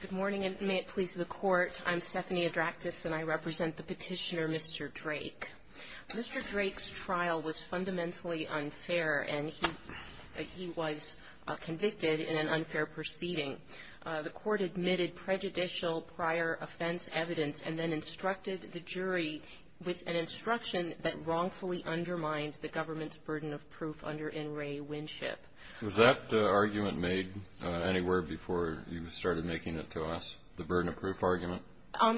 Good morning, and may it please the Court. I'm Stephanie Adraktis, and I represent the petitioner Mr. Drake. Mr. Drake's trial was fundamentally unfair, and he was convicted in an unfair proceeding. The Court admitted prejudicial prior offense evidence and then instructed the jury with an instruction that wrongfully undermined the government's burden of proof under N. Ray Winship. Was that argument made anywhere before you started making it to us, the burden of proof argument?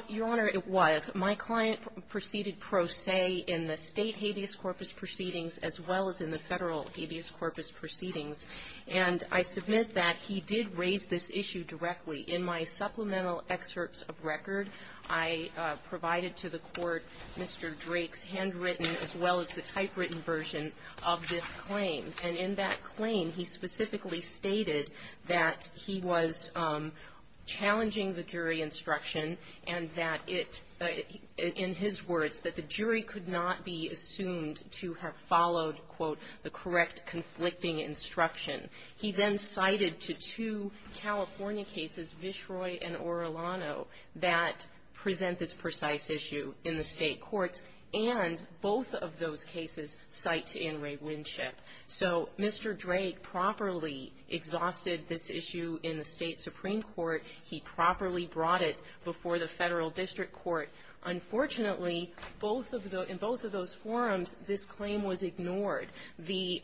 Your Honor, it was. My client proceeded pro se in the state habeas corpus proceedings as well as in the federal habeas corpus proceedings. And I submit that he did raise this issue directly. In my supplemental excerpts of record, I provided to the Court Mr. Drake's handwritten as well as the typewritten version of this claim. And in that claim, he specifically stated that he was challenging the jury instruction and that it, in his words, that the jury could not be assumed to have followed, quote, the correct conflicting instruction. He then cited to two California cases, Vishroy and Orlano, that present this precise issue in the state courts. And both of those cases cite to N. Ray Winship. So Mr. Drake properly exhausted this issue in the state supreme court. He properly brought it before the federal district court. Unfortunately, both of the – in both of those forums, this claim was ignored. The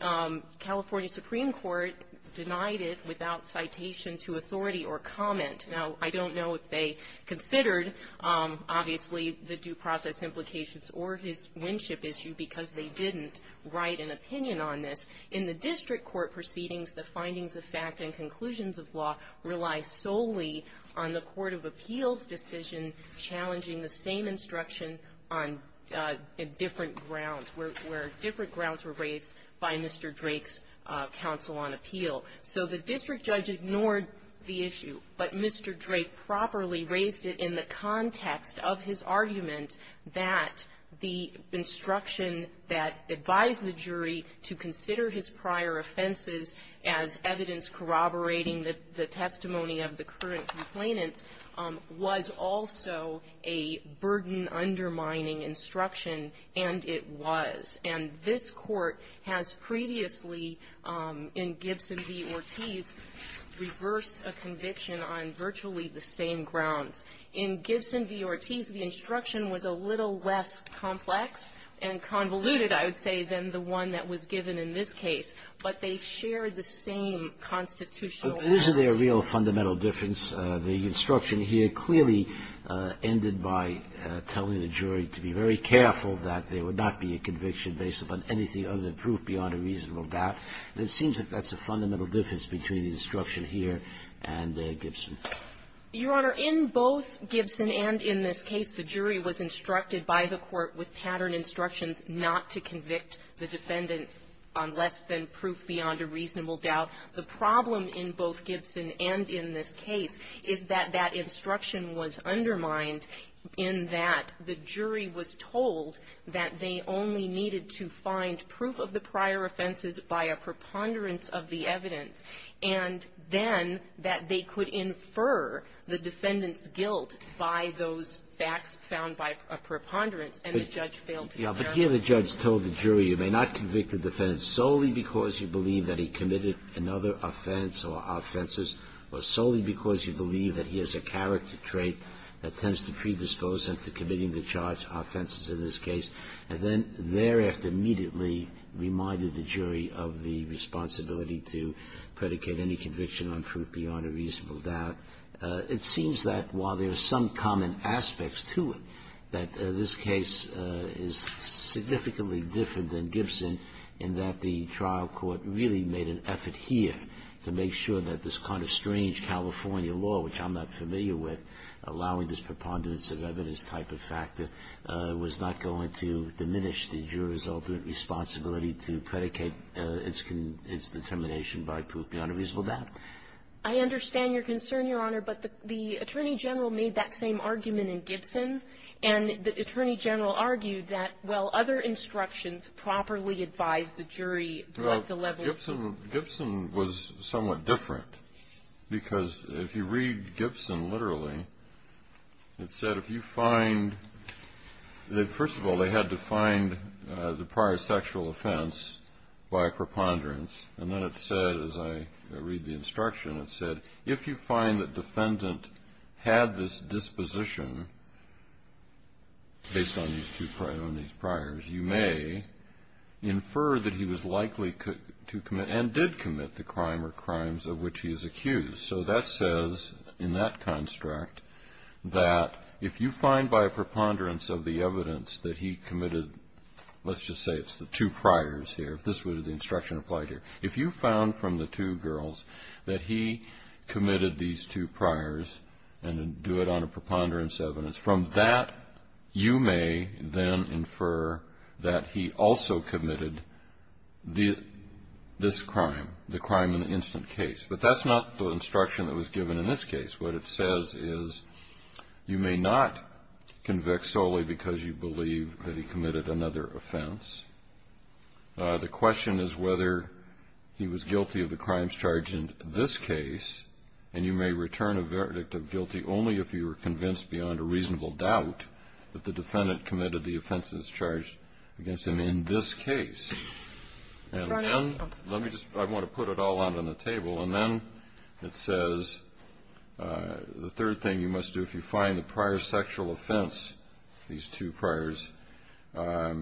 California supreme court denied it without citation to authority or comment. Now, I don't know if they considered, obviously, the due process implications or his Winship issue because they didn't write an opinion on this. In the district court proceedings, the findings of fact and conclusions of law rely solely on the court of appeals decision challenging the same instruction on different grounds, where different grounds were raised by Mr. Drake's counsel on appeal. So the district judge ignored the issue, but Mr. Drake properly raised it in the context of his argument that the instruction that advised the jury to consider his prior offenses as evidence corroborating the testimony of the current complainants was also a burden-undermining instruction, and it was. And this Court has previously, in Gibson v. Ortiz, reversed a conviction on virtually the same grounds. In Gibson v. Ortiz, the instruction was a little less complex and convoluted, I would say, than the one that was given in this case. But they shared the same constitutional – But isn't there a real fundamental difference? The instruction here clearly ended by telling the jury to be very careful that there wasn't a conviction based upon anything other than proof beyond a reasonable doubt, and it seems that that's a fundamental difference between the instruction here and Gibson. Your Honor, in both Gibson and in this case, the jury was instructed by the court with pattern instructions not to convict the defendant on less than proof beyond a reasonable doubt. The problem in both Gibson and in this case is that that instruction was undermined in that the jury was told that they only needed to find proof of the prior offenses by a preponderance of the evidence, and then that they could infer the defendant's guilt by those facts found by a preponderance, and the judge failed to do that. But here the judge told the jury you may not convict the defendant solely because you believe that he committed another offense or offenses, or solely because you predispose him to committing the charged offenses in this case, and then thereafter immediately reminded the jury of the responsibility to predicate any conviction on proof beyond a reasonable doubt. It seems that while there are some common aspects to it, that this case is significantly different than Gibson in that the trial court really made an effort here to make sure that this kind of strange California law, which I'm not familiar with, allowing this preponderance of evidence type of factor was not going to diminish the jury's ultimate responsibility to predicate its determination by proof beyond a reasonable doubt. I understand your concern, Your Honor, but the Attorney General made that same argument in Gibson, and the Attorney General argued that while other instructions properly advised the jury what the level of ---- Well, Gibson was somewhat different, because if you read Gibson literally, it said if you find that, first of all, they had to find the prior sexual offense by preponderance, and then it said, as I read the instruction, it said if you find that defendant had this disposition based on these two prior, on these priors, you may infer that he was likely to commit and did commit the crime or crimes of which he is accused. So that says in that construct that if you find by a preponderance of the evidence that he committed, let's just say it's the two priors here, if this was the instruction applied here, if you found from the two girls that he committed these two priors and do it on a preponderance evidence, from that you may then infer that he also committed this crime, the crime in the instant case. But that's not the instruction that was given in this case. What it says is you may not convict solely because you believe that he committed another offense. The question is whether he was guilty of the crimes charged in this case, and you may return a verdict of guilty only if you are convinced beyond a reasonable doubt that the defendant committed the offenses charged against him in this case. And then let me just – I want to put it all out on the table. And then it says the third thing you must do if you find the prior sexual offense, these two priors, have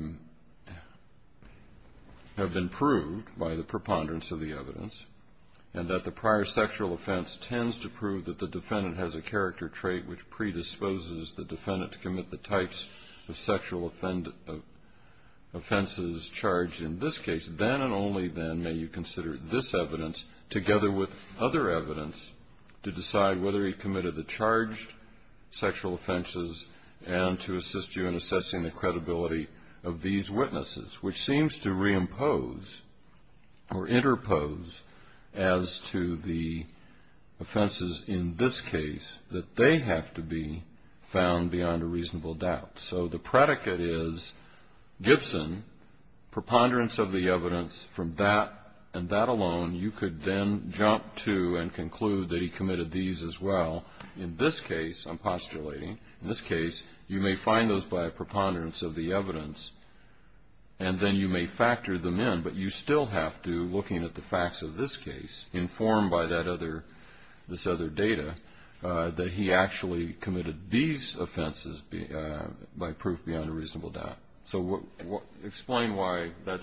been proved by the preponderance of the evidence, and that the prior sexual offense tends to prove that the defendant has a character trait which predisposes the defendant to commit the types of sexual offenses charged in this case, then and only then may you consider this evidence together with other evidence to decide whether he committed the charged sexual offenses and to assist you in assessing the offenses in this case that they have to be found beyond a reasonable doubt. So the predicate is Gibson, preponderance of the evidence from that and that alone, you could then jump to and conclude that he committed these as well. In this case, I'm postulating, in this case you may find those by a preponderance of the evidence, and then you may factor them in. But you still have to, looking at the facts of this case, informed by this other data, that he actually committed these offenses by proof beyond a reasonable doubt. So explain why that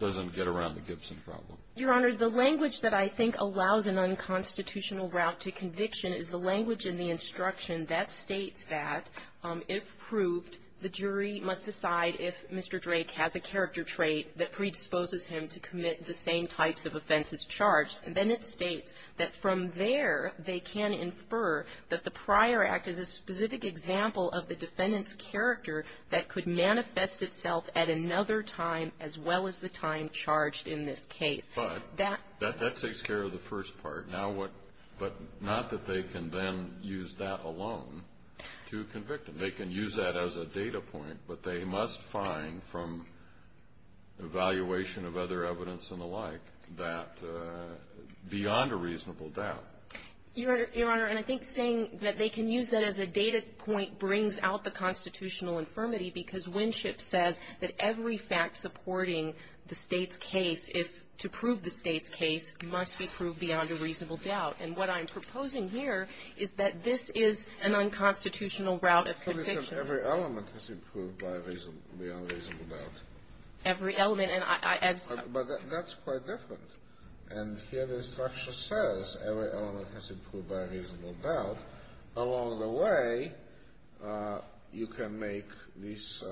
doesn't get around the Gibson problem. Your Honor, the language that I think allows an unconstitutional route to conviction is the language in the instruction that states that if proved, the jury must decide if Mr. Drake has a character trait that predisposes him to commit the same types of offenses charged, then it states that from there they can infer that the prior act is a specific example of the defendant's character that could manifest itself at another time as well as the time charged in this case. But that takes care of the first part. But not that they can then use that alone to convict him. They can use that as a data point, but they must find from evaluation of other evidence and the like that beyond a reasonable doubt. Your Honor, and I think saying that they can use that as a data point brings out the constitutional infirmity because Winship says that every fact supporting the State's case, to prove the State's case, must be proved beyond a reasonable doubt. And what I'm proposing here is that this is an unconstitutional route of conviction. Every element has to be proved beyond a reasonable doubt. Every element. But that's quite different. And here the instruction says every element has to be proved beyond a reasonable doubt. Along the way, you can make these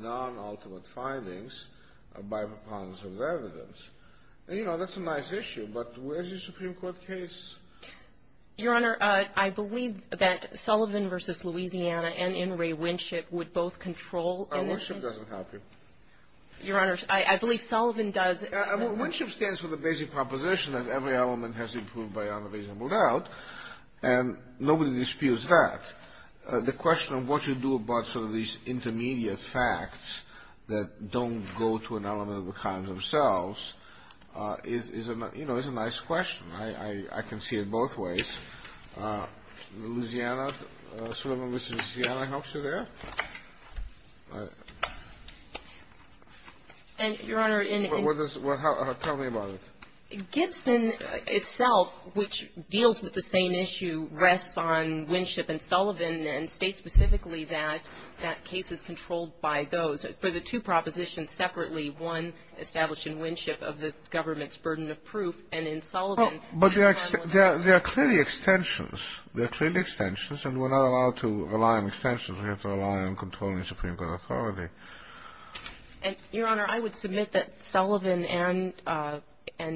non-ultimate findings by proponents of evidence. And, you know, that's a nice issue, but where's your Supreme Court case? Your Honor, I believe that Sullivan v. Louisiana and Inouye Winship would both control in this case. Winship doesn't help you. Your Honor, I believe Sullivan does. Winship stands for the basic proposition that every element has to be proved beyond a reasonable doubt. And nobody disputes that. The question of what you do about sort of these intermediate facts that don't go to an element of the crimes themselves is a, you know, is a nice question. I can see it both ways. Louisiana, Sullivan v. Louisiana helps you there? And, Your Honor, in the end of the day. Tell me about it. Gibson itself, which deals with the same issue, rests on Winship and Sullivan and states specifically that that case is controlled by those. For the two propositions separately, one established in Winship of the government's burden of proof and in Sullivan. But there are clearly extensions. There are clearly extensions. And we're not allowed to rely on extensions. We have to rely on controlling the Supreme Court authority. Your Honor, I would submit that Sullivan and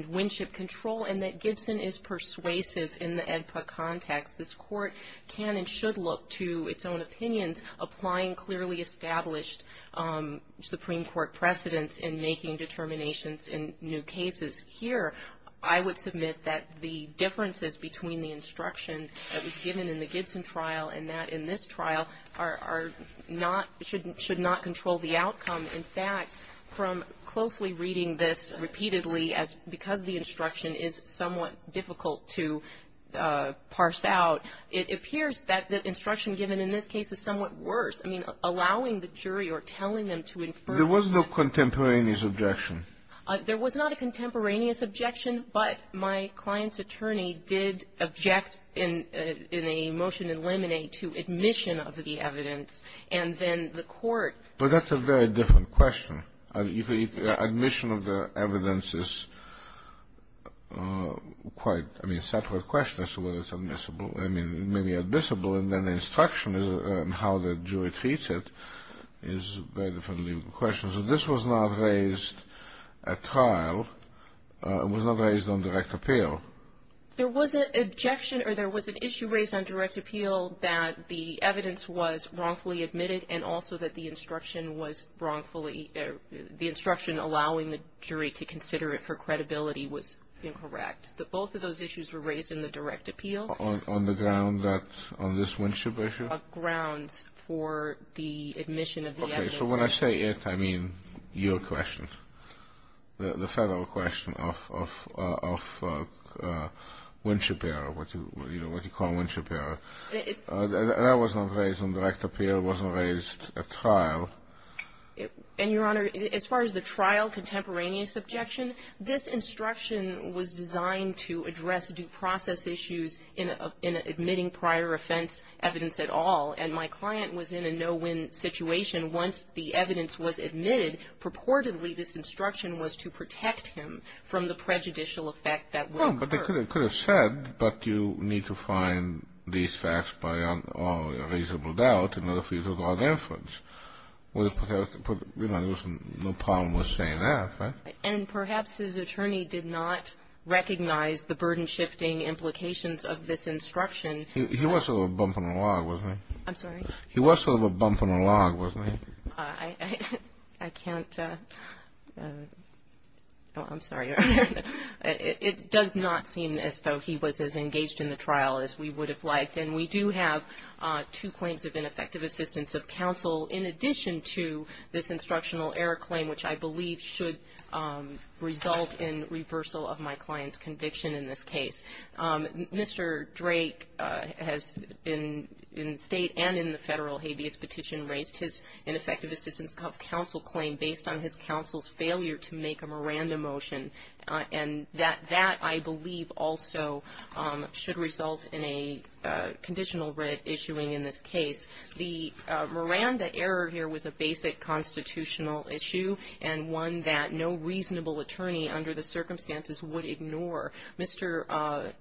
Winship control and that Gibson is persuasive in the AEDPA context. This Court can and should look to its own opinions, applying clearly established Supreme Court precedents in making determinations in new cases. Here, I would submit that the differences between the instruction that was given in the Gibson trial and that in this trial are not, should not control the outcome. In fact, from closely reading this repeatedly, because the instruction is somewhat difficult to parse out, it appears that the instruction given in this case is somewhat worse. I mean, allowing the jury or telling them to infer. There was no contemporaneous objection. There was not a contemporaneous objection, but my client's attorney did object in a motion in Lemonade to admission of the evidence. And then the Court. But that's a very different question. Admission of the evidence is quite, I mean, a separate question as to whether it's admissible. I mean, it may be admissible, and then the instruction and how the jury treats it is a very different question. So this was not raised at trial. It was not raised on direct appeal. There was an objection or there was an issue raised on direct appeal that the evidence was wrongfully admitted and also that the instruction was wrongfully, the instruction allowing the jury to consider it for credibility was incorrect. Both of those issues were raised in the direct appeal. On the ground that, on this Winship issue? On grounds for the admission of the evidence. Okay, so when I say it, I mean your question, the federal question of Winship error, what you call Winship error. That was not raised on direct appeal. It wasn't raised at trial. And, Your Honor, as far as the trial contemporaneous objection, this instruction was designed to address due process issues in admitting prior offense evidence at all. And my client was in a no-win situation. Once the evidence was admitted, purportedly this instruction was to protect him from the prejudicial effect that would occur. No, but they could have said, but you need to find these facts by all reasonable doubt in order for you to log inference. There was no problem with saying that, right? And perhaps his attorney did not recognize the burden-shifting implications of this instruction. He was sort of a bump in the log, wasn't he? I'm sorry? He was sort of a bump in the log, wasn't he? I can't. I'm sorry, Your Honor. It does not seem as though he was as engaged in the trial as we would have liked. And we do have two claims of ineffective assistance of counsel in addition to this instructional error claim, which I believe should result in reversal of my client's conviction in this case. Mr. Drake has, in state and in the federal habeas petition, raised his ineffective assistance of counsel claim based on his counsel's failure to make a Miranda motion. And that, I believe, also should result in a conditional writ issuing in this case. The Miranda error here was a basic constitutional issue and one that no reasonable attorney under the circumstances would ignore. Mr.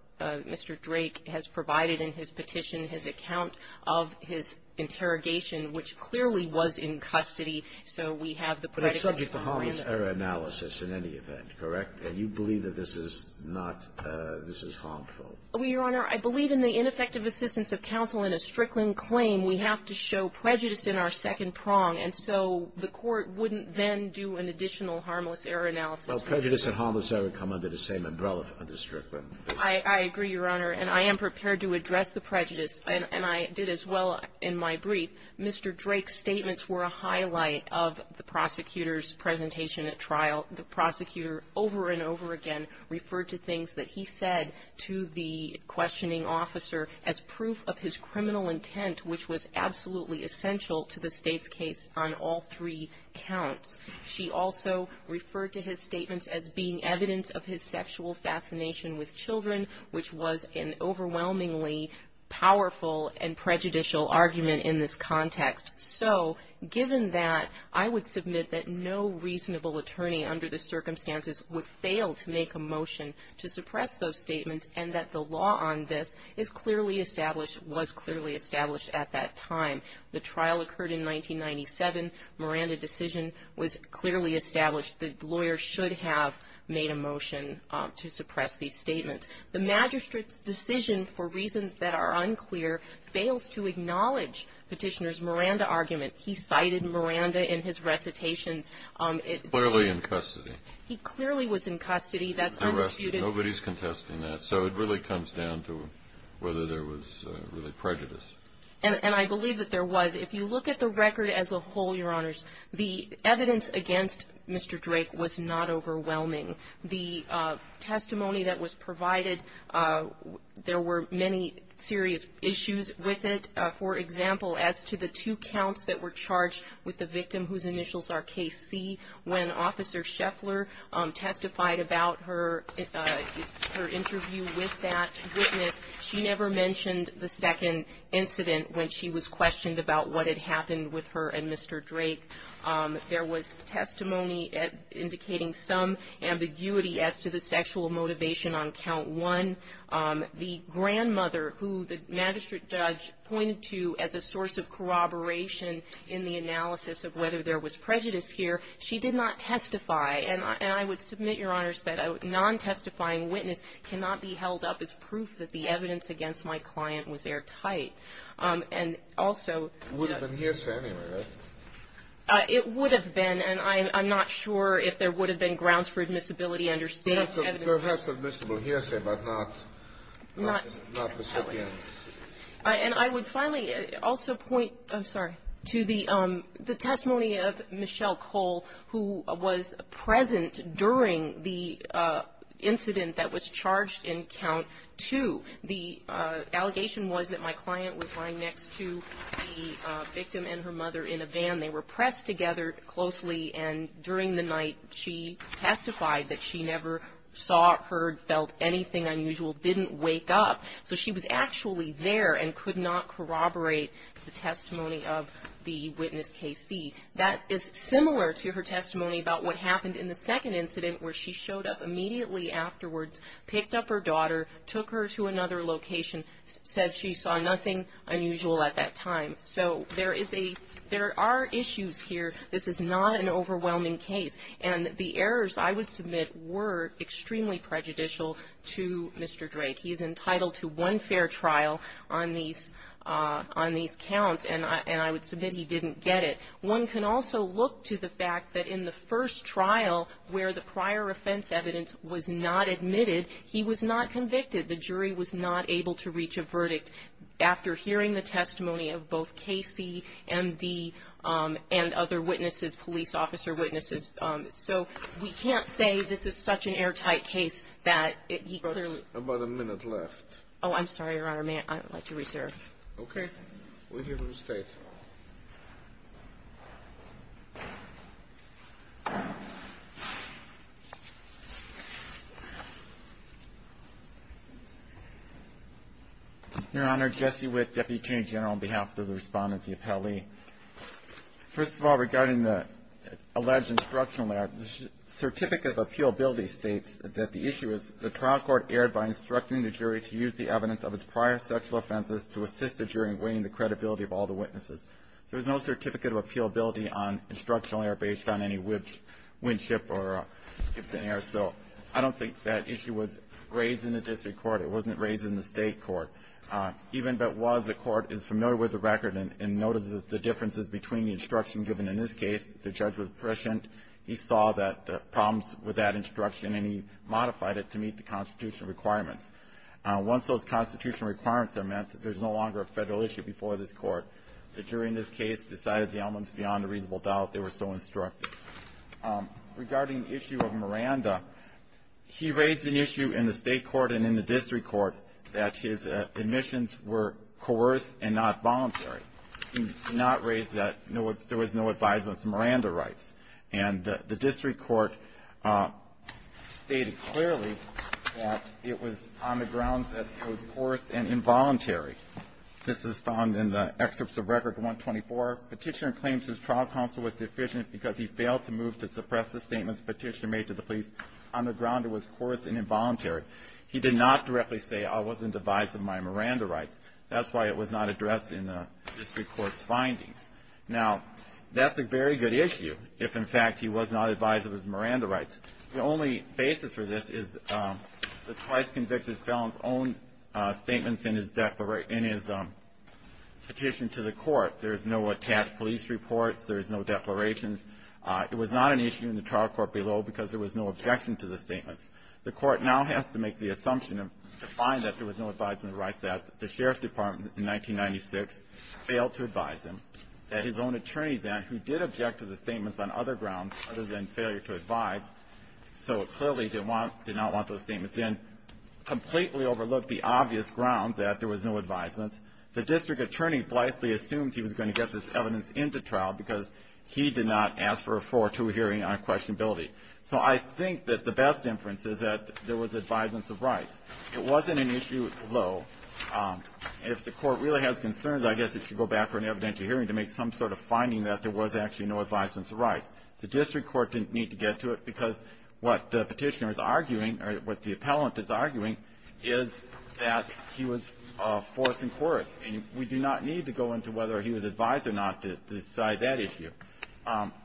Drake has provided in his petition his account of his interrogation, which clearly was in custody. So we have the predicate Miranda. But it's subject to harmless error analysis in any event, correct? And you believe that this is not – this is harmful? Your Honor, I believe in the ineffective assistance of counsel in a Strickland claim, we have to show prejudice in our second prong. And so the court wouldn't then do an additional harmless error analysis. Well, prejudice and harmless error come under the same umbrella under Strickland. I agree, Your Honor. And I am prepared to address the prejudice, and I did as well in my brief. Mr. Drake's statements were a highlight of the prosecutor's presentation at trial. The prosecutor over and over again referred to things that he said to the questioning officer as proof of his criminal intent, which was absolutely essential to the State's case on all three counts. She also referred to his statements as being evidence of his sexual fascination with children, which was an overwhelmingly powerful and prejudicial argument in this context. So given that, I would submit that no reasonable attorney under the circumstances would fail to make a motion to suppress those statements, and that the law on this is clearly established, was clearly established at that time. The trial occurred in 1997. Miranda decision was clearly established. The lawyer should have made a motion to suppress these statements. The magistrate's decision, for reasons that are unclear, fails to acknowledge Petitioner's Miranda argument. He cited Miranda in his recitations. Clearly in custody. He clearly was in custody. Nobody's contesting that. So it really comes down to whether there was really prejudice. And I believe that there was. If you look at the record as a whole, Your Honors, the evidence against Mr. Drake was not overwhelming. The testimony that was provided, there were many serious issues with it. For example, as to the two counts that were charged with the victim whose initials are KC, when Officer Scheffler testified about her interview with that witness, she never mentioned the second incident when she was questioned about what had happened with her and Mr. Drake. There was testimony indicating some ambiguity as to the sexual motivation on count one. The grandmother who the magistrate judge pointed to as a source of corroboration in the analysis of whether there was prejudice here, she did not testify. And I would submit, Your Honors, that a non-testifying witness cannot be held up as proof that the evidence against my client was airtight. And also — It would have been hearsay anyway, right? It would have been. And I'm not sure if there would have been grounds for admissibility under state evidence. Perhaps admissible hearsay, but not recipient. And I would finally also point to the testimony of Michelle Cole, who was present during the incident that was charged in count two. The allegation was that my client was lying next to the victim and her mother in a van. They were pressed together closely, and during the night she testified that she never saw, heard, felt anything unusual, didn't wake up. So she was actually there and could not corroborate the testimony of the witness KC. That is similar to her testimony about what happened in the second incident where she showed up immediately afterwards, picked up her daughter, took her to another location, said she saw nothing unusual at that time. So there is a — there are issues here. This is not an overwhelming case. And the errors, I would submit, were extremely prejudicial to Mr. Drake. He is entitled to one fair trial on these counts, and I would submit he didn't get it. One can also look to the fact that in the first trial, where the prior offense evidence was not admitted, he was not convicted. The jury was not able to reach a verdict after hearing the testimony of both KC, MD, and other witnesses, police officer witnesses. So we can't say this is such an airtight case that he clearly — We have about a minute left. Oh, I'm sorry, Your Honor. May I let you reserve? Okay. We'll hear from the State. Your Honor, Jesse Witt, Deputy Attorney General, on behalf of the respondents, the appellee. First of all, regarding the alleged instructional error, the Certificate of Appealability states that the issue is, the trial court erred by instructing the jury to use the evidence of its prior sexual offenses to assist the jury in weighing the credibility of all the witnesses. There was no Certificate of Appealability on instructional error based on any Winship or Gibson error. So I don't think that issue was raised in the district court. It wasn't raised in the state court. Even if it was, the court is familiar with the record and notices the differences between the instruction given in this case. The judge was prescient. He saw that the problems with that instruction, and he modified it to meet the constitutional requirements. Once those constitutional requirements are met, there's no longer a federal issue before this court. The jury in this case decided the elements beyond a reasonable doubt. They were so instructive. Regarding the issue of Miranda, he raised an issue in the state court and in the district court that his admissions were coerced and not voluntary. He did not raise that. There was no advisement of Miranda rights. And the district court stated clearly that it was on the grounds that it was coerced and involuntary. This is found in the excerpts of Record 124. Petitioner claims his trial counsel was deficient because he failed to move to suppress the statements Petitioner made to the police. On the ground, it was coerced and involuntary. He did not directly say, I wasn't advised of my Miranda rights. That's why it was not addressed in the district court's findings. Now, that's a very good issue if, in fact, he was not advised of his Miranda rights. The only basis for this is the twice convicted felon's own statements in his petition to the court. There's no attached police reports. There's no declarations. It was not an issue in the trial court below because there was no objection to the statements. The court now has to make the assumption to find that there was no advisement of rights that the sheriff's department in 1996 failed to advise him, that his own attorney then, who did object to the statements on other grounds other than failure to advise, so clearly did not want those statements in, completely overlooked the obvious ground that there was no advisement. The district attorney blithely assumed he was going to get this evidence into trial because he did not ask for a 4-2 hearing on questionability. So I think that the best inference is that there was advisements of rights. It wasn't an issue below. If the court really has concerns, I guess it should go back for an evidentiary hearing to make some sort of finding that there was actually no advisements of rights. The district court didn't need to get to it because what the petitioner is arguing or what the appellant is arguing is that he was forced in court, and we do not need to go into whether he was advised or not to decide that issue.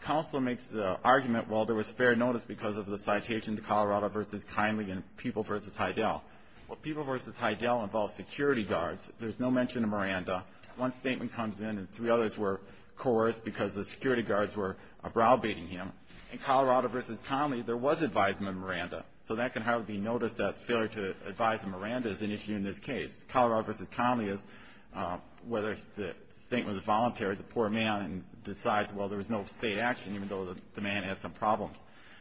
Counselor makes the argument, well, there was fair notice because of the citation, the Colorado v. Conley and People v. Heidel. Well, People v. Heidel involves security guards. There's no mention of Miranda. One statement comes in and three others were coerced because the security guards were brow-baiting him. In Colorado v. Conley, there was advisement of Miranda, so that can hardly be noticed that failure to advise of Miranda is an issue in this case. Colorado v. Conley is whether the statement was voluntary, or the poor man decides, well, there was no state action, even though the man had some problems.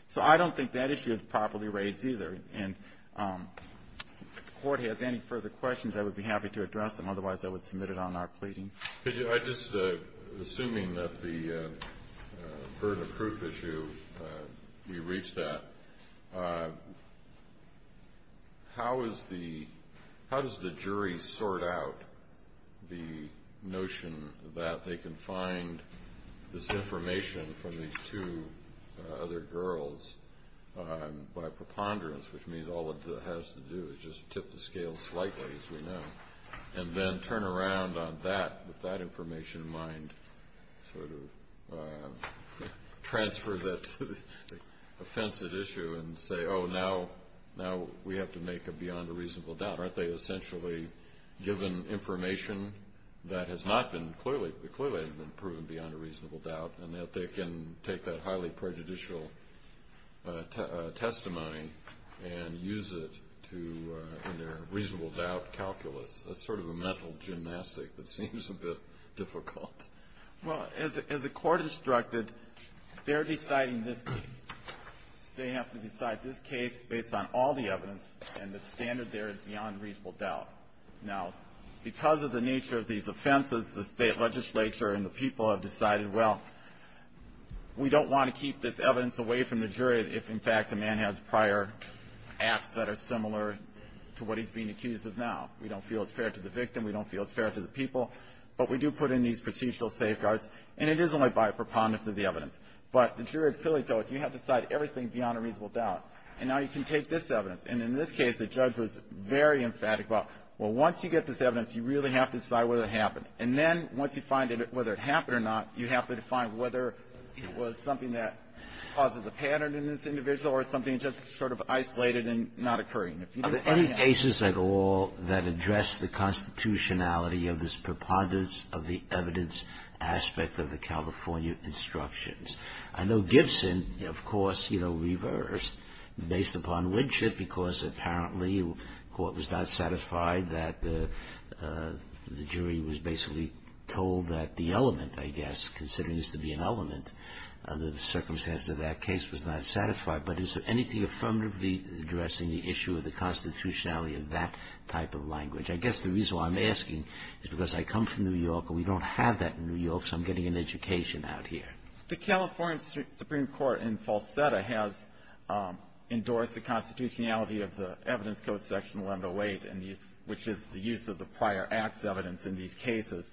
So I don't think that issue is properly raised either. And if the court has any further questions, I would be happy to address them. Otherwise, I would submit it on our pleadings. I'm just assuming that the burden of proof issue, you reached that. How does the jury sort out the notion that they can find this information from these two other girls by preponderance, which means all it has to do is just tip the scale slightly, as we know, and then turn around on that, with that information in mind, sort of transfer that to the offensive issue and say, oh, now we have to make a beyond a reasonable doubt. Aren't they essentially given information that has not been clearly proven beyond a reasonable doubt, and that they can take that highly prejudicial testimony and use it in their reasonable doubt calculus? That's sort of a mental gymnastic that seems a bit difficult. Well, as the court instructed, they're deciding this case. They have to decide this case based on all the evidence, and the standard there is beyond reasonable doubt. Now, because of the nature of these offenses, the state legislature and the people have decided, well, we don't want to keep this evidence away from the jury if, in fact, the man has prior acts that are similar to what he's being accused of now. We don't feel it's fair to the victim. We don't feel it's fair to the people. But we do put in these procedural safeguards, and it is only by preponderance of the evidence. But the jury has clearly told us you have to decide everything beyond a reasonable doubt, and now you can take this evidence. And in this case, the judge was very emphatic about, well, once you get this evidence, you really have to decide whether it happened. And then once you find out whether it happened or not, you have to find whether it was something that causes a pattern in this individual or something just sort of isolated and not occurring. If you don't find out. Are there any cases at all that address the constitutionality of this preponderance of the evidence aspect of the California instructions? I know Gibson, of course, you know, reversed based upon Winchett because apparently the court was not satisfied that the jury was basically told that the element, I guess, considering this to be an element under the circumstances of that case, was not satisfied. But is there anything affirmatively addressing the issue of the constitutionality of that type of language? I guess the reason why I'm asking is because I come from New York and we don't have that in New York, so I'm getting an education out here. The California Supreme Court in Falsetta has endorsed the constitutionality of the evidence code section 108, which is the use of the prior acts evidence in these cases.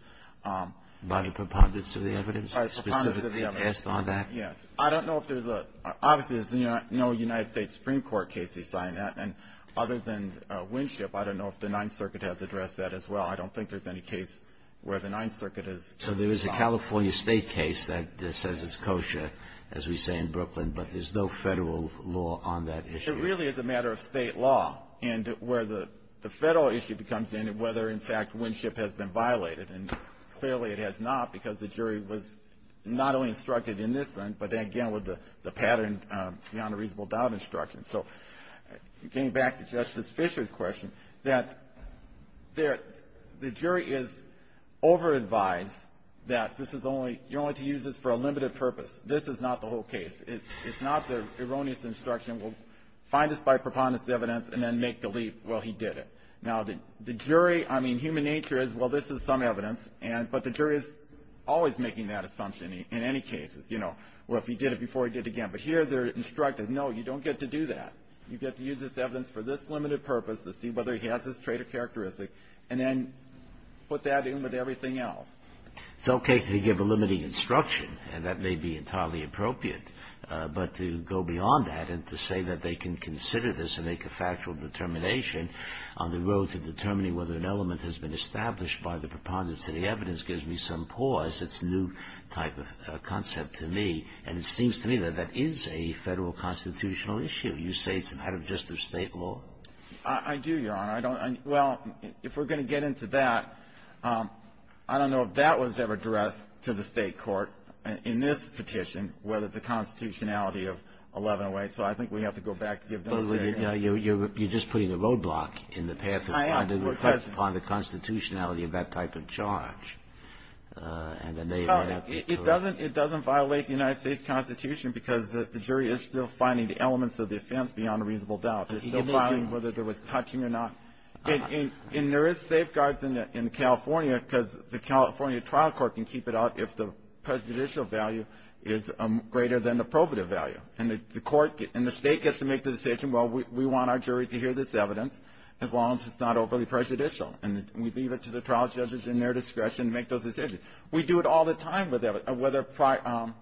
By the preponderance of the evidence? By the preponderance of the evidence. Specifically based on that? Yes. I don't know if there's a – obviously, there's no United States Supreme Court case he signed. And other than Winchett, I don't know if the Ninth Circuit has addressed that as well. I don't think there's any case where the Ninth Circuit has signed. So there is a California State case that says it's kosher, as we say in Brooklyn, but there's no Federal law on that issue. But it really is a matter of State law and where the Federal issue comes in and whether, in fact, Winchett has been violated. And clearly it has not because the jury was not only instructed in this one, but again with the pattern beyond a reasonable doubt instruction. So getting back to Justice Fischer's question, that the jury is over-advised that this is only – you're only to use this for a limited purpose. This is not the whole case. It's not the erroneous instruction. We'll find this by preponderance of evidence and then make the leap. Well, he did it. Now, the jury – I mean, human nature is, well, this is some evidence, and – but the jury is always making that assumption in any case. You know, well, if he did it before, he did it again. But here they're instructed, no, you don't get to do that. You get to use this evidence for this limited purpose to see whether he has this trait or characteristic, and then put that in with everything else. It's okay to give a limiting instruction, and that may be entirely appropriate. But to go beyond that and to say that they can consider this and make a factual determination on the road to determining whether an element has been established by the preponderance of the evidence gives me some pause. It's a new type of concept to me. And it seems to me that that is a Federal constitutional issue. You say it's an out-of-justice State law? I do, Your Honor. I don't – well, if we're going to get into that, I don't know if that was ever addressed to the State court in this petition, whether the constitutionality of 1108. So I think we have to go back and give them a fair – Well, you're just putting a roadblock in the path of finding – I am. Well, it doesn't. Upon the constitutionality of that type of charge. And then they may have to correct it. Oh, it doesn't violate the United States Constitution because the jury is still finding the elements of the offense beyond a reasonable doubt. They're still finding whether there was touching or not. And there is safeguards in California because the California trial court can keep it out if the prejudicial value is greater than the probative value. And the court – and the State gets to make the decision, well, we want our jury to hear this evidence as long as it's not overly prejudicial. And we leave it to the trial judges in their discretion to make those decisions. We do it all the time with evidence, whether –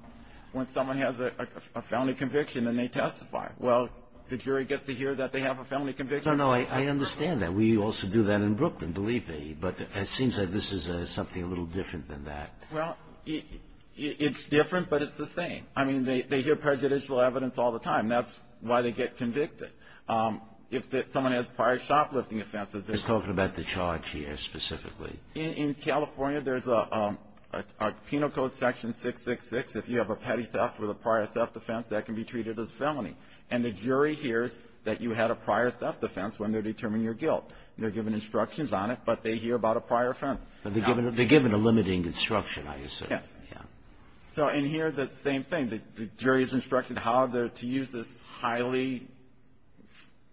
when someone has a felony conviction and they testify. Well, the jury gets to hear that they have a felony conviction. No, no. I understand that. We also do that in Brooklyn, believe me. But it seems like this is something a little different than that. Well, it's different, but it's the same. I mean, they hear prejudicial evidence all the time. That's why they get convicted. If someone has prior shoplifting offenses, they're – He's talking about the charge here specifically. In California, there's a penal code section 666. If you have a petty theft with a prior theft offense, that can be treated as a felony. And the jury hears that you had a prior theft offense when they're determining your guilt. They're given instructions on it, but they hear about a prior offense. But they're given a limiting instruction, I assume. Yes. Yes. So in here, the same thing. The jury is instructed how they're to use this highly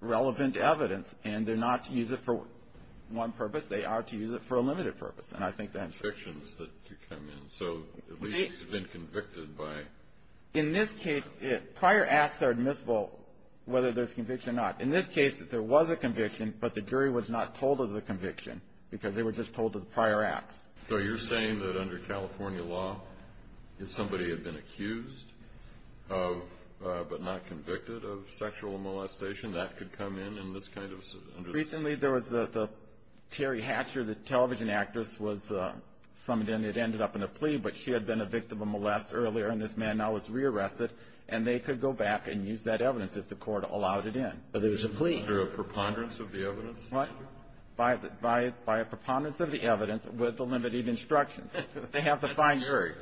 relevant evidence, and they're not to use it for one purpose. They are to use it for a limited purpose. And I think that's true. Convictions that come in. So at least he's been convicted by – In this case, prior acts are admissible whether there's conviction or not. In this case, there was a conviction, but the jury was not told of the conviction because they were just told of the prior acts. So you're saying that under California law, if somebody had been accused of – but not convicted of sexual molestation, that could come in in this kind of – Recently, there was the – Terry Hatcher, the television actress, was – some of them had ended up in a plea, but she had been a victim of molest earlier, and this man now was rearrested, and they could go back and use that evidence if the court allowed it in. But there was a plea. Under a preponderance of the evidence? What? By a preponderance of the evidence with the limited instruction. They have to find – That's scary.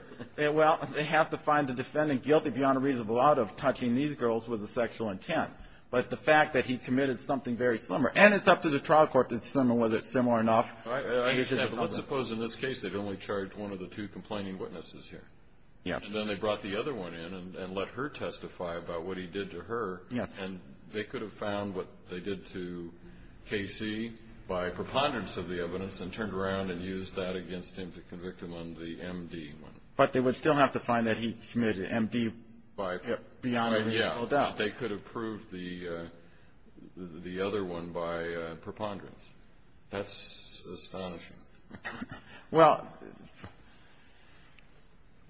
Well, they have to find the defendant guilty beyond a reasonable doubt of touching these girls with a sexual intent. But the fact that he committed something very slimmer – and it's up to the trial court to determine whether it's similar enough. I understand. But let's suppose in this case they've only charged one of the two complaining witnesses here. Yes. And then they brought the other one in and let her testify about what he did to her. Yes. And they could have found what they did to K.C. by preponderance of the evidence and turned around and used that against him to convict him on the M.D. one. But they would still have to find that he committed M.D. beyond a reasonable doubt. Yeah. They could have proved the other one by preponderance. That's astonishing. Well,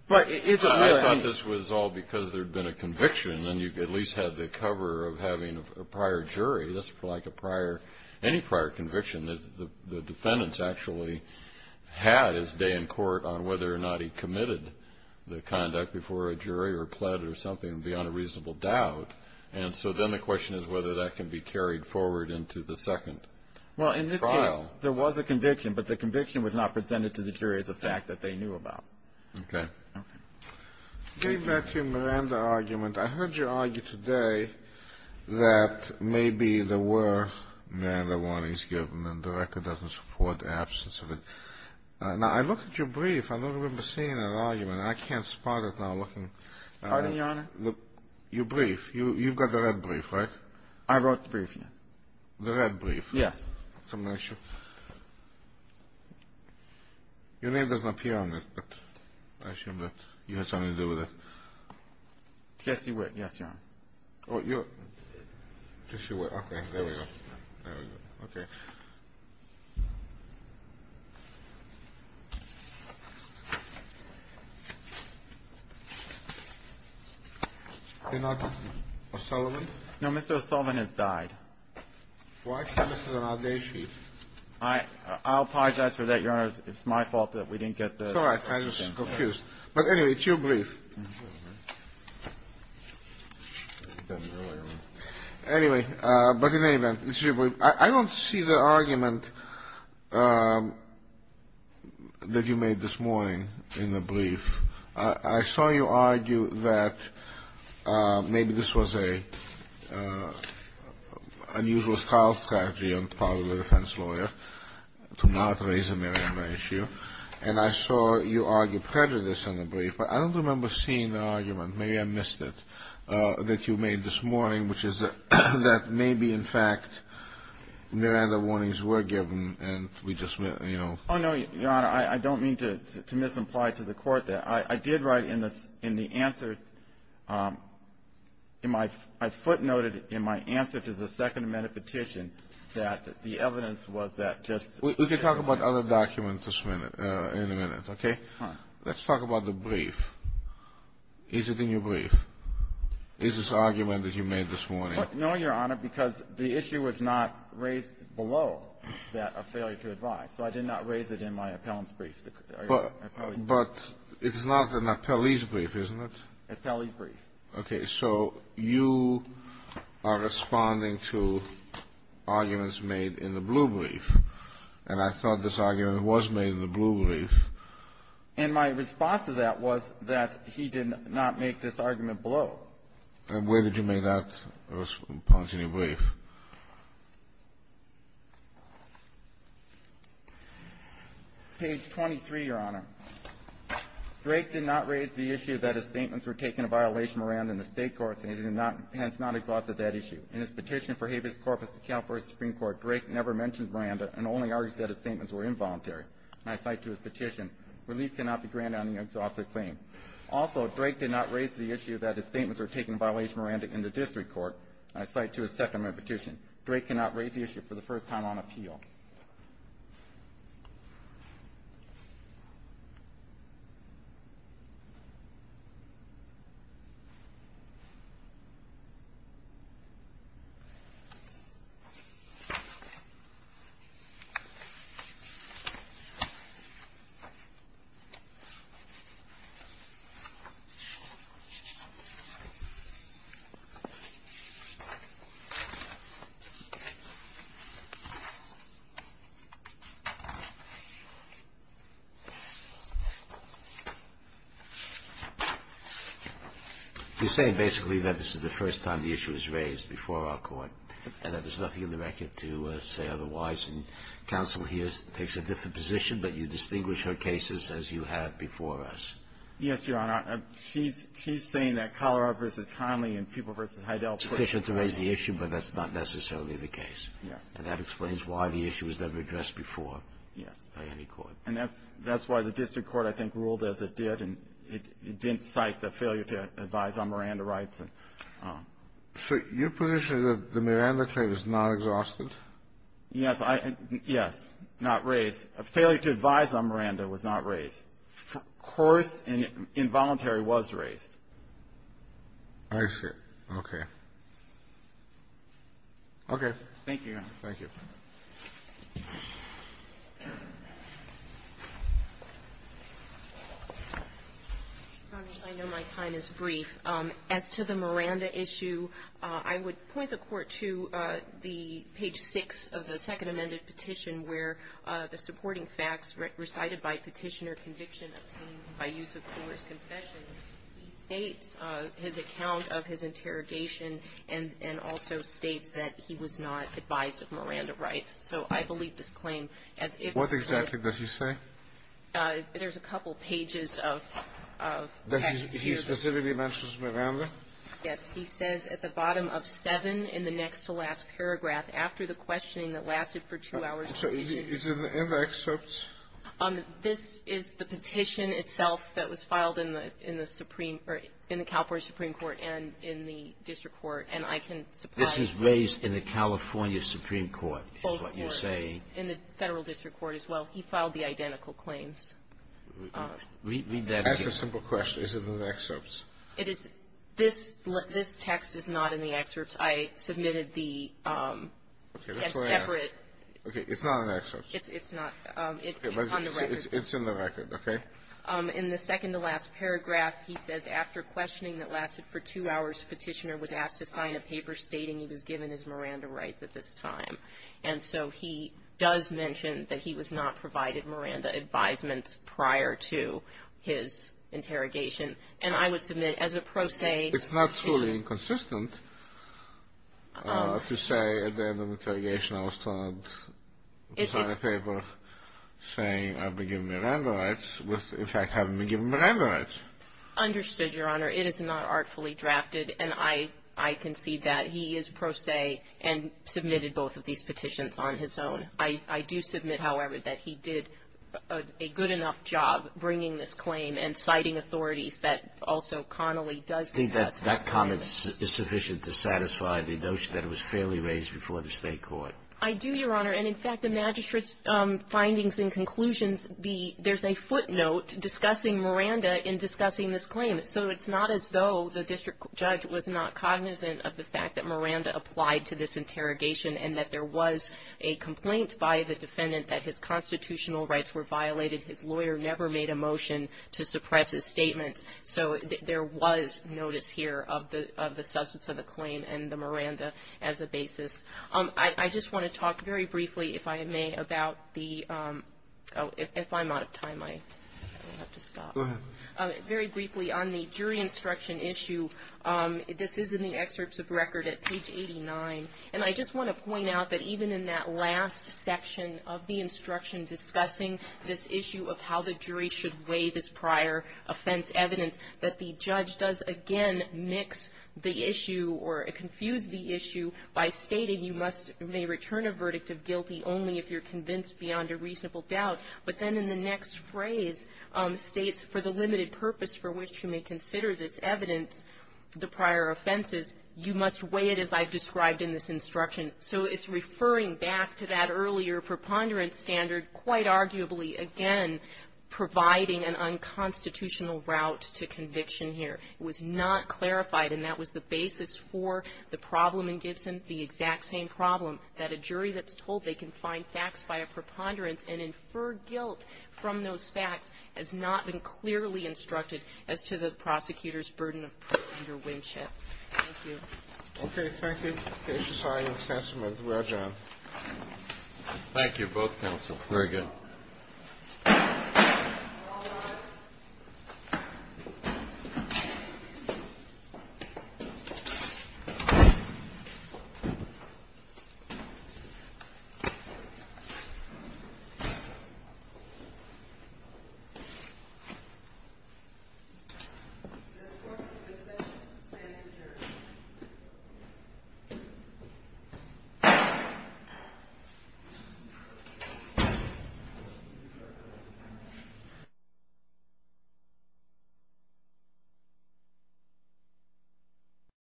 but is it really – I thought this was all because there had been a conviction, and you at least had the cover of having a prior jury. That's like a prior – any prior conviction. The defendant's actually had his day in court on whether or not he committed the conduct before a jury or pled or something beyond a reasonable doubt. And so then the question is whether that can be carried forward into the second trial. Well, in this case, there was a conviction, but the conviction was not presented to the jury as a fact that they knew about. Okay. Okay. Getting back to your Miranda argument, I heard you argue today that maybe there were Miranda warnings given and the record doesn't support the absence of it. Now, I looked at your brief. I don't remember seeing that argument. I can't spot it now looking. Pardon me, Your Honor? Your brief. You've got the red brief, right? I wrote the brief, yeah. The red brief. Yes. Your name doesn't appear on it, but I assume that you had something to do with it. Jesse Witt, yes, Your Honor. Oh, you're – Jesse Witt. Okay. There we go. There we go. Okay. Is he not O'Sullivan? No, Mr. O'Sullivan has died. Why can't this be on our day sheet? I'll apologize for that, Your Honor. It's my fault that we didn't get the – It's all right. I was just confused. But anyway, it's your brief. Anyway, but in any event, it's your brief. I don't see the argument that you made this morning in the brief. I saw you argue that maybe this was an unusual style strategy on the part of the defense lawyer to not raise a Miranda issue, and I saw you argue prejudice in the brief, but I don't remember seeing the argument, maybe I missed it, that you made this morning, which is that maybe, in fact, Miranda warnings were given and we just – Oh, no, Your Honor. I don't mean to misimply to the Court that. I did write in the answer – I footnoted in my answer to the Second Amendment petition that the evidence was that just – We can talk about other documents in a minute, okay? Let's talk about the brief. Is it in your brief? Is this argument that you made this morning – No, Your Honor, because the issue was not raised below that of failure to advise. So I did not raise it in my appellant's brief. But it's not an appellee's brief, isn't it? Appellee's brief. Okay. So you are responding to arguments made in the blue brief, and I thought this argument was made in the blue brief. And my response to that was that he did not make this argument below. And where did you make that response in your brief? Page 23, Your Honor. Drake did not raise the issue that his statements were taking a violation of Miranda in the State courts, and he did not – hence, not exhausted that issue. In his petition for habeas corpus to California Supreme Court, Drake never mentioned Miranda and only argued that his statements were involuntary. And I cite to his petition, relief cannot be granted on the exhausted claim. Also, Drake did not raise the issue that his statements were taking a violation of Miranda in the district court. And I cite to his second of my petition. Drake cannot raise the issue for the first time on appeal. Thank you, Your Honor. You're saying basically that this is the first time the issue is raised before our court, and that there's nothing in the record to say otherwise, and counsel here takes a different position, but you distinguish her cases as you had before us. Yes, Your Honor. She's saying that Collarar v. Conley and Peeble v. Heidel put the – It's sufficient to raise the issue, but that's not necessarily the case. Yes. And that explains why the issue was never addressed before, yes, by any court. And that's why the district court, I think, ruled as it did, and it didn't cite the failure to advise on Miranda rights. So your position is that the Miranda claim is not exhausted? Yes. Yes. Not raised. A failure to advise on Miranda was not raised. Of course, involuntary was raised. I see. Okay. Okay. Thank you, Your Honor. Thank you. Your Honors, I know my time is brief. As to the Miranda issue, I would point the Court to the page 6 of the second amended petition where the supporting facts recited by petitioner conviction obtained by use of Collar's confession, he states his account of his interrogation and also states that he was not advised of Miranda rights. So I believe this claim, as if it were to be raised. What exactly does he say? There's a couple pages of text here. That he specifically mentions Miranda? Yes. He says at the bottom of 7 in the next to last paragraph, after the questioning that lasted for two hours in the petition. So is it in the excerpt? This is the petition itself that was filed in the Supreme or in the California Supreme Court and in the district court, and I can supply. This was raised in the California Supreme Court, is what you're saying? Both courts. In the federal district court as well. He filed the identical claims. Read that again. That's a simple question. Is it in the excerpts? It is. This text is not in the excerpts. I submitted the separate. Okay. It's not in the excerpts. It's not. It's on the record. It's in the record. Okay. In the second to last paragraph, he says, after questioning that lasted for two hours, petitioner was asked to sign a paper stating he was given his Miranda rights at this time. And so he does mention that he was not provided Miranda advisements prior to his interrogation. And I would submit, as a pro se. It's not truly inconsistent to say at the end of the interrogation, I was signed a paper saying I've been given Miranda rights, with, in fact, having been given Miranda rights. Understood, Your Honor. It is not artfully drafted. And I concede that. He is pro se and submitted both of these petitions on his own. I do submit, however, that he did a good enough job bringing this claim and citing authorities that also commonly does discuss it. That comment is sufficient to satisfy the notion that it was fairly raised before the State court. I do, Your Honor. And, in fact, the magistrate's findings and conclusions, there's a footnote discussing Miranda in discussing this claim. So it's not as though the district judge was not cognizant of the fact that Miranda applied to this interrogation and that there was a complaint by the defendant that his constitutional rights were violated. His lawyer never made a motion to suppress his statements. So there was notice here of the substance of the claim and the Miranda as a basis. I just want to talk very briefly, if I may, about the ‑‑ oh, if I'm out of time, I will have to stop. Go ahead. Very briefly on the jury instruction issue, this is in the excerpts of record at page 89. And I just want to point out that even in that last section of the instruction discussing this issue of how the jury should weigh this prior offense evidence, that the judge does, again, mix the issue or confuse the issue by stating you must ‑‑ may return a verdict of guilty only if you're convinced beyond a reasonable doubt. But then in the next phrase states, for the limited purpose for which you may consider this evidence, the prior offenses, you must weigh it as I've described in this instruction. So it's referring back to that earlier preponderance standard, quite arguably, again, providing an unconstitutional route to conviction here. It was not clarified, and that was the basis for the problem in Gibson, the exact same problem, that a jury that's told they can find facts by a preponderance and infer guilt from those facts has not been clearly instructed as to the prosecutor's burden of preponderance. Thank you. Okay. Thank you. Okay. Thank you. Both counsel. Very good. All rise. This court is adjourned.